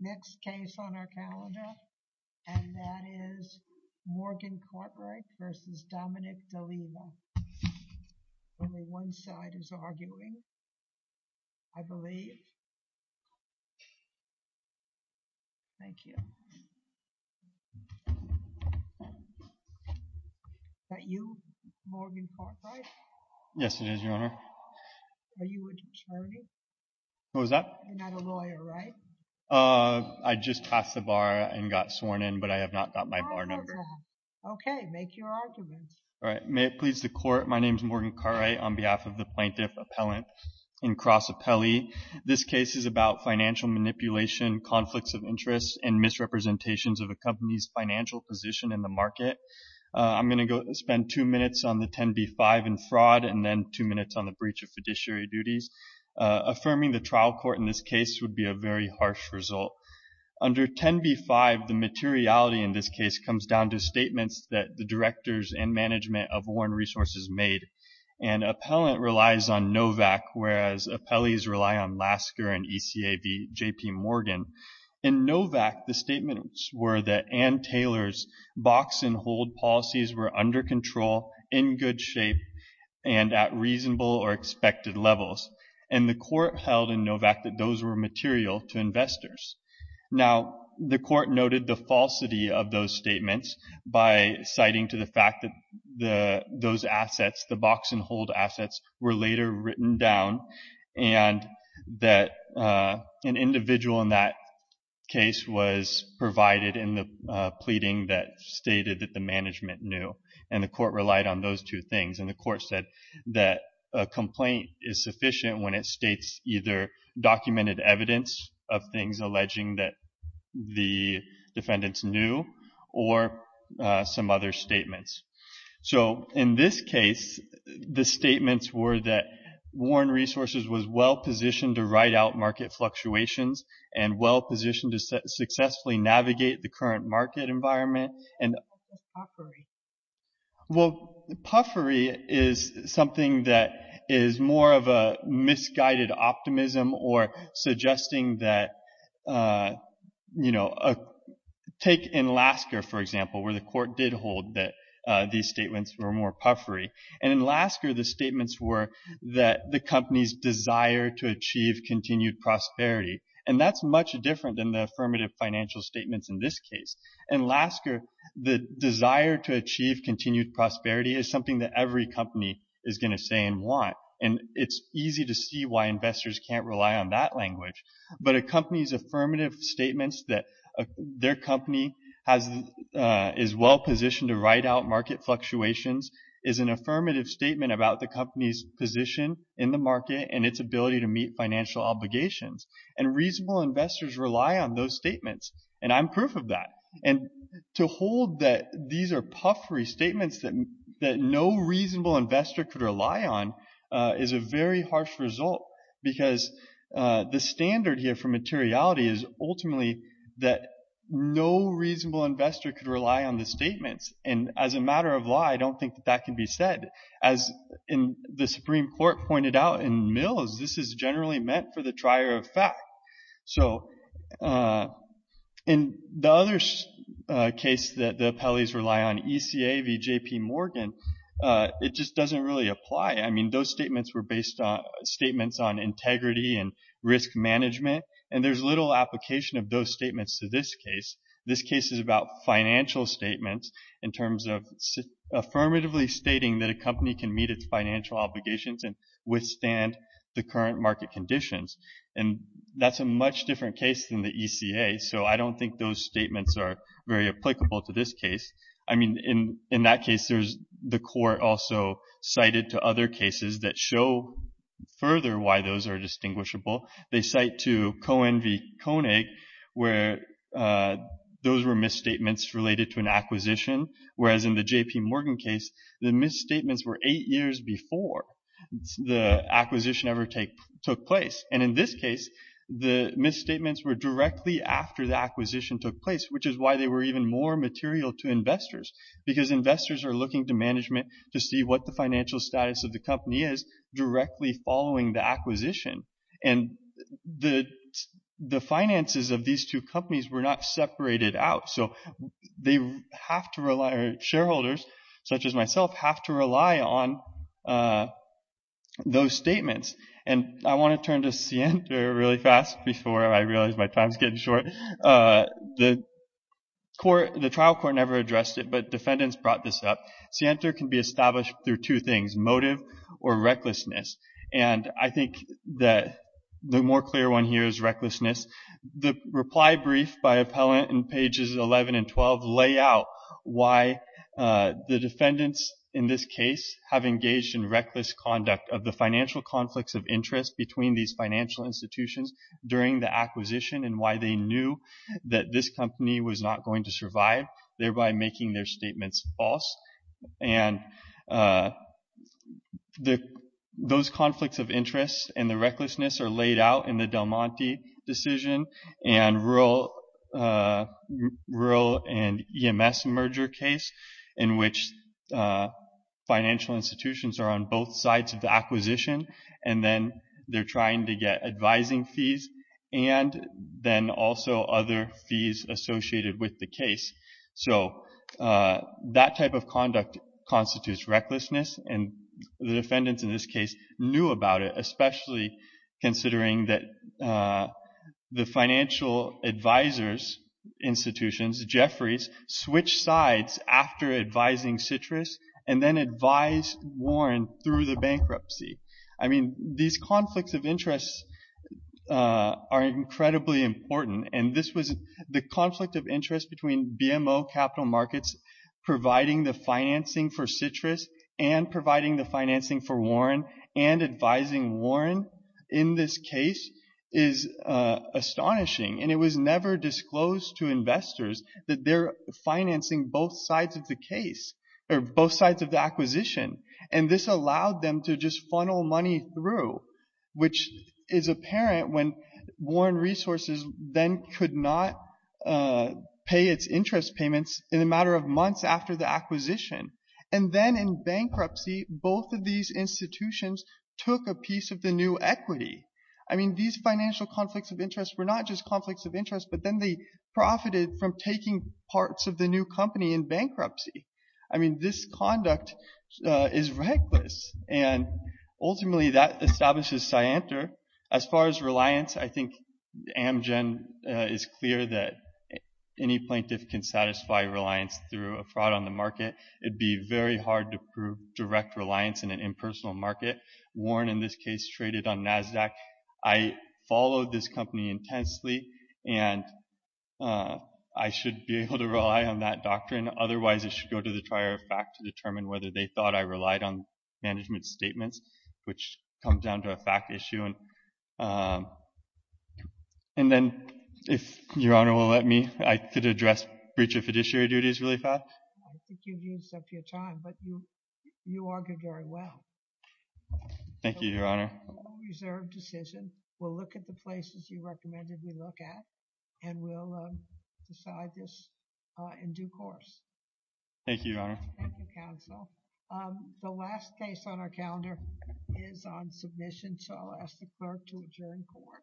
next case on our calendar and that is Morgan Cartwright v. Dominic D'Alleva only one side is arguing I believe thank you is that you Morgan Cartwright yes it is your honor are you an attorney what was that you're not a lawyer right uh I just passed the bar and got sworn in but I have not got my bar number okay make your argument all right may it please the court my name is Morgan Cartwright on behalf of the plaintiff appellant in cross appellee this case is about financial manipulation conflicts of interest and misrepresentations of a company's financial position in the market I'm going to go spend two minutes on the 10b5 and fraud and then two minutes on the breach of fiduciary duties affirming the trial court in this case would be a very harsh result under 10b5 the materiality in this case comes down to statements that the directors and management of Warren resources made and appellant relies on Novak whereas appellees rely on Lasker and ECAB JP Morgan in Novak the statements were that Ann Taylor's box and hold policies were under control in good shape and at reasonable or expected levels and the court held in Novak that those were material to investors now the court noted the falsity of those statements by citing to the fact that the those assets the box and hold assets were later written down and that an individual in that case was provided in the pleading that stated that the management knew and the court relied on those two things and the court said that a complaint is sufficient when it states either documented evidence of things alleging that the defendants knew or some other statements so in this case the statements were that Warren resources was well positioned to write out market fluctuations and well positioned to successfully navigate the well puffery is something that is more of a misguided optimism or suggesting that you know a take in Lasker for example where the court did hold that these statements were more puffery and in Lasker the statements were that the company's desire to achieve continued prosperity and that's much different than the affirmative financial statements in this case in Lasker the desire to achieve continued prosperity is something that every company is going to say and want and it's easy to see why investors can't rely on that language but a company's affirmative statements that their company has is well positioned to write out market fluctuations is an affirmative statement about the company's position in the market and its ability to meet financial obligations and reasonable investors rely on those statements and I'm proof of that and to hold that these are puffery statements that that no reasonable investor could rely on is a very harsh result because the standard here for materiality is ultimately that no reasonable investor could rely on the statements and as a matter of law I don't think that that can be said as in the supreme court pointed out in mills this is generally meant for the trier of fact so uh in the other case that the appellees rely on eca vjp morgan uh it just doesn't really apply I mean those statements were based on statements on integrity and risk management and there's little application of those statements to this case this case is about financial statements in terms of affirmatively stating that a company can meet its financial obligations and withstand the current market conditions and that's a much different case than the eca so I don't think those statements are very applicable to this case I mean in in that case there's the court also cited to other cases that show further why those are distinguishable they cite to coen v konig where those were misstatements related to an acquisition whereas in the jp morgan case the misstatements were eight years before the acquisition ever take took place and in this case the misstatements were directly after the acquisition took place which is why they were even more material to investors because investors are looking to management to see what the financial status of the company is directly following the acquisition and the the finances of these two uh those statements and I want to turn to see enter really fast before I realize my time's getting short uh the court the trial court never addressed it but defendants brought this up see enter can be established through two things motive or recklessness and I think that the more clear one here is recklessness the reply brief by appellant in pages 11 and 12 lay out why uh the defendants in this case have engaged in reckless conduct of the financial conflicts of interest between these financial institutions during the acquisition and why they knew that this company was not going to survive thereby making their statements false and uh the those conflicts of interest and the recklessness are laid out in the del monte decision and rural uh rural and ems merger case in which uh financial institutions are on both sides of the acquisition and then they're trying to get advising fees and then also other fees associated with the case so uh that type of conduct constitutes recklessness and the defendants in this case knew about it especially considering that uh the financial advisors institutions jeffries switched sides after advising citrus and then advised warren through the bankruptcy I mean these conflicts of interests uh are incredibly important and this was the conflict of interest between bmo capital markets providing the financing for citrus and providing the and advising warren in this case is uh astonishing and it was never disclosed to investors that they're financing both sides of the case or both sides of the acquisition and this allowed them to just funnel money through which is apparent when warren resources then could not pay its interest payments in a matter of months after the acquisition and then in bankruptcy both of these institutions took a piece of the new equity I mean these financial conflicts of interest were not just conflicts of interest but then they profited from taking parts of the new company in bankruptcy I mean this conduct uh is reckless and ultimately that establishes scienter as far as reliance I think amgen is clear that any plaintiff can satisfy reliance through a fraud on the market it'd be very hard to prove direct reliance in an impersonal market warren in this case traded on nasdaq I followed this company intensely and uh I should be able to rely on that doctrine otherwise it should go to the trier of fact to determine whether they thought I relied on management statements which comes down to a fact issue and um and then if your honor will let me I could address breach of fiduciary duties really fast I think you've used up your time but you you argued very well thank you your honor reserved decision we'll look at the places you recommended we look at and we'll decide this uh in due course thank you your honor thank you counsel um the last case on our calendar is on submission so I'll ask the clerk to adjourn court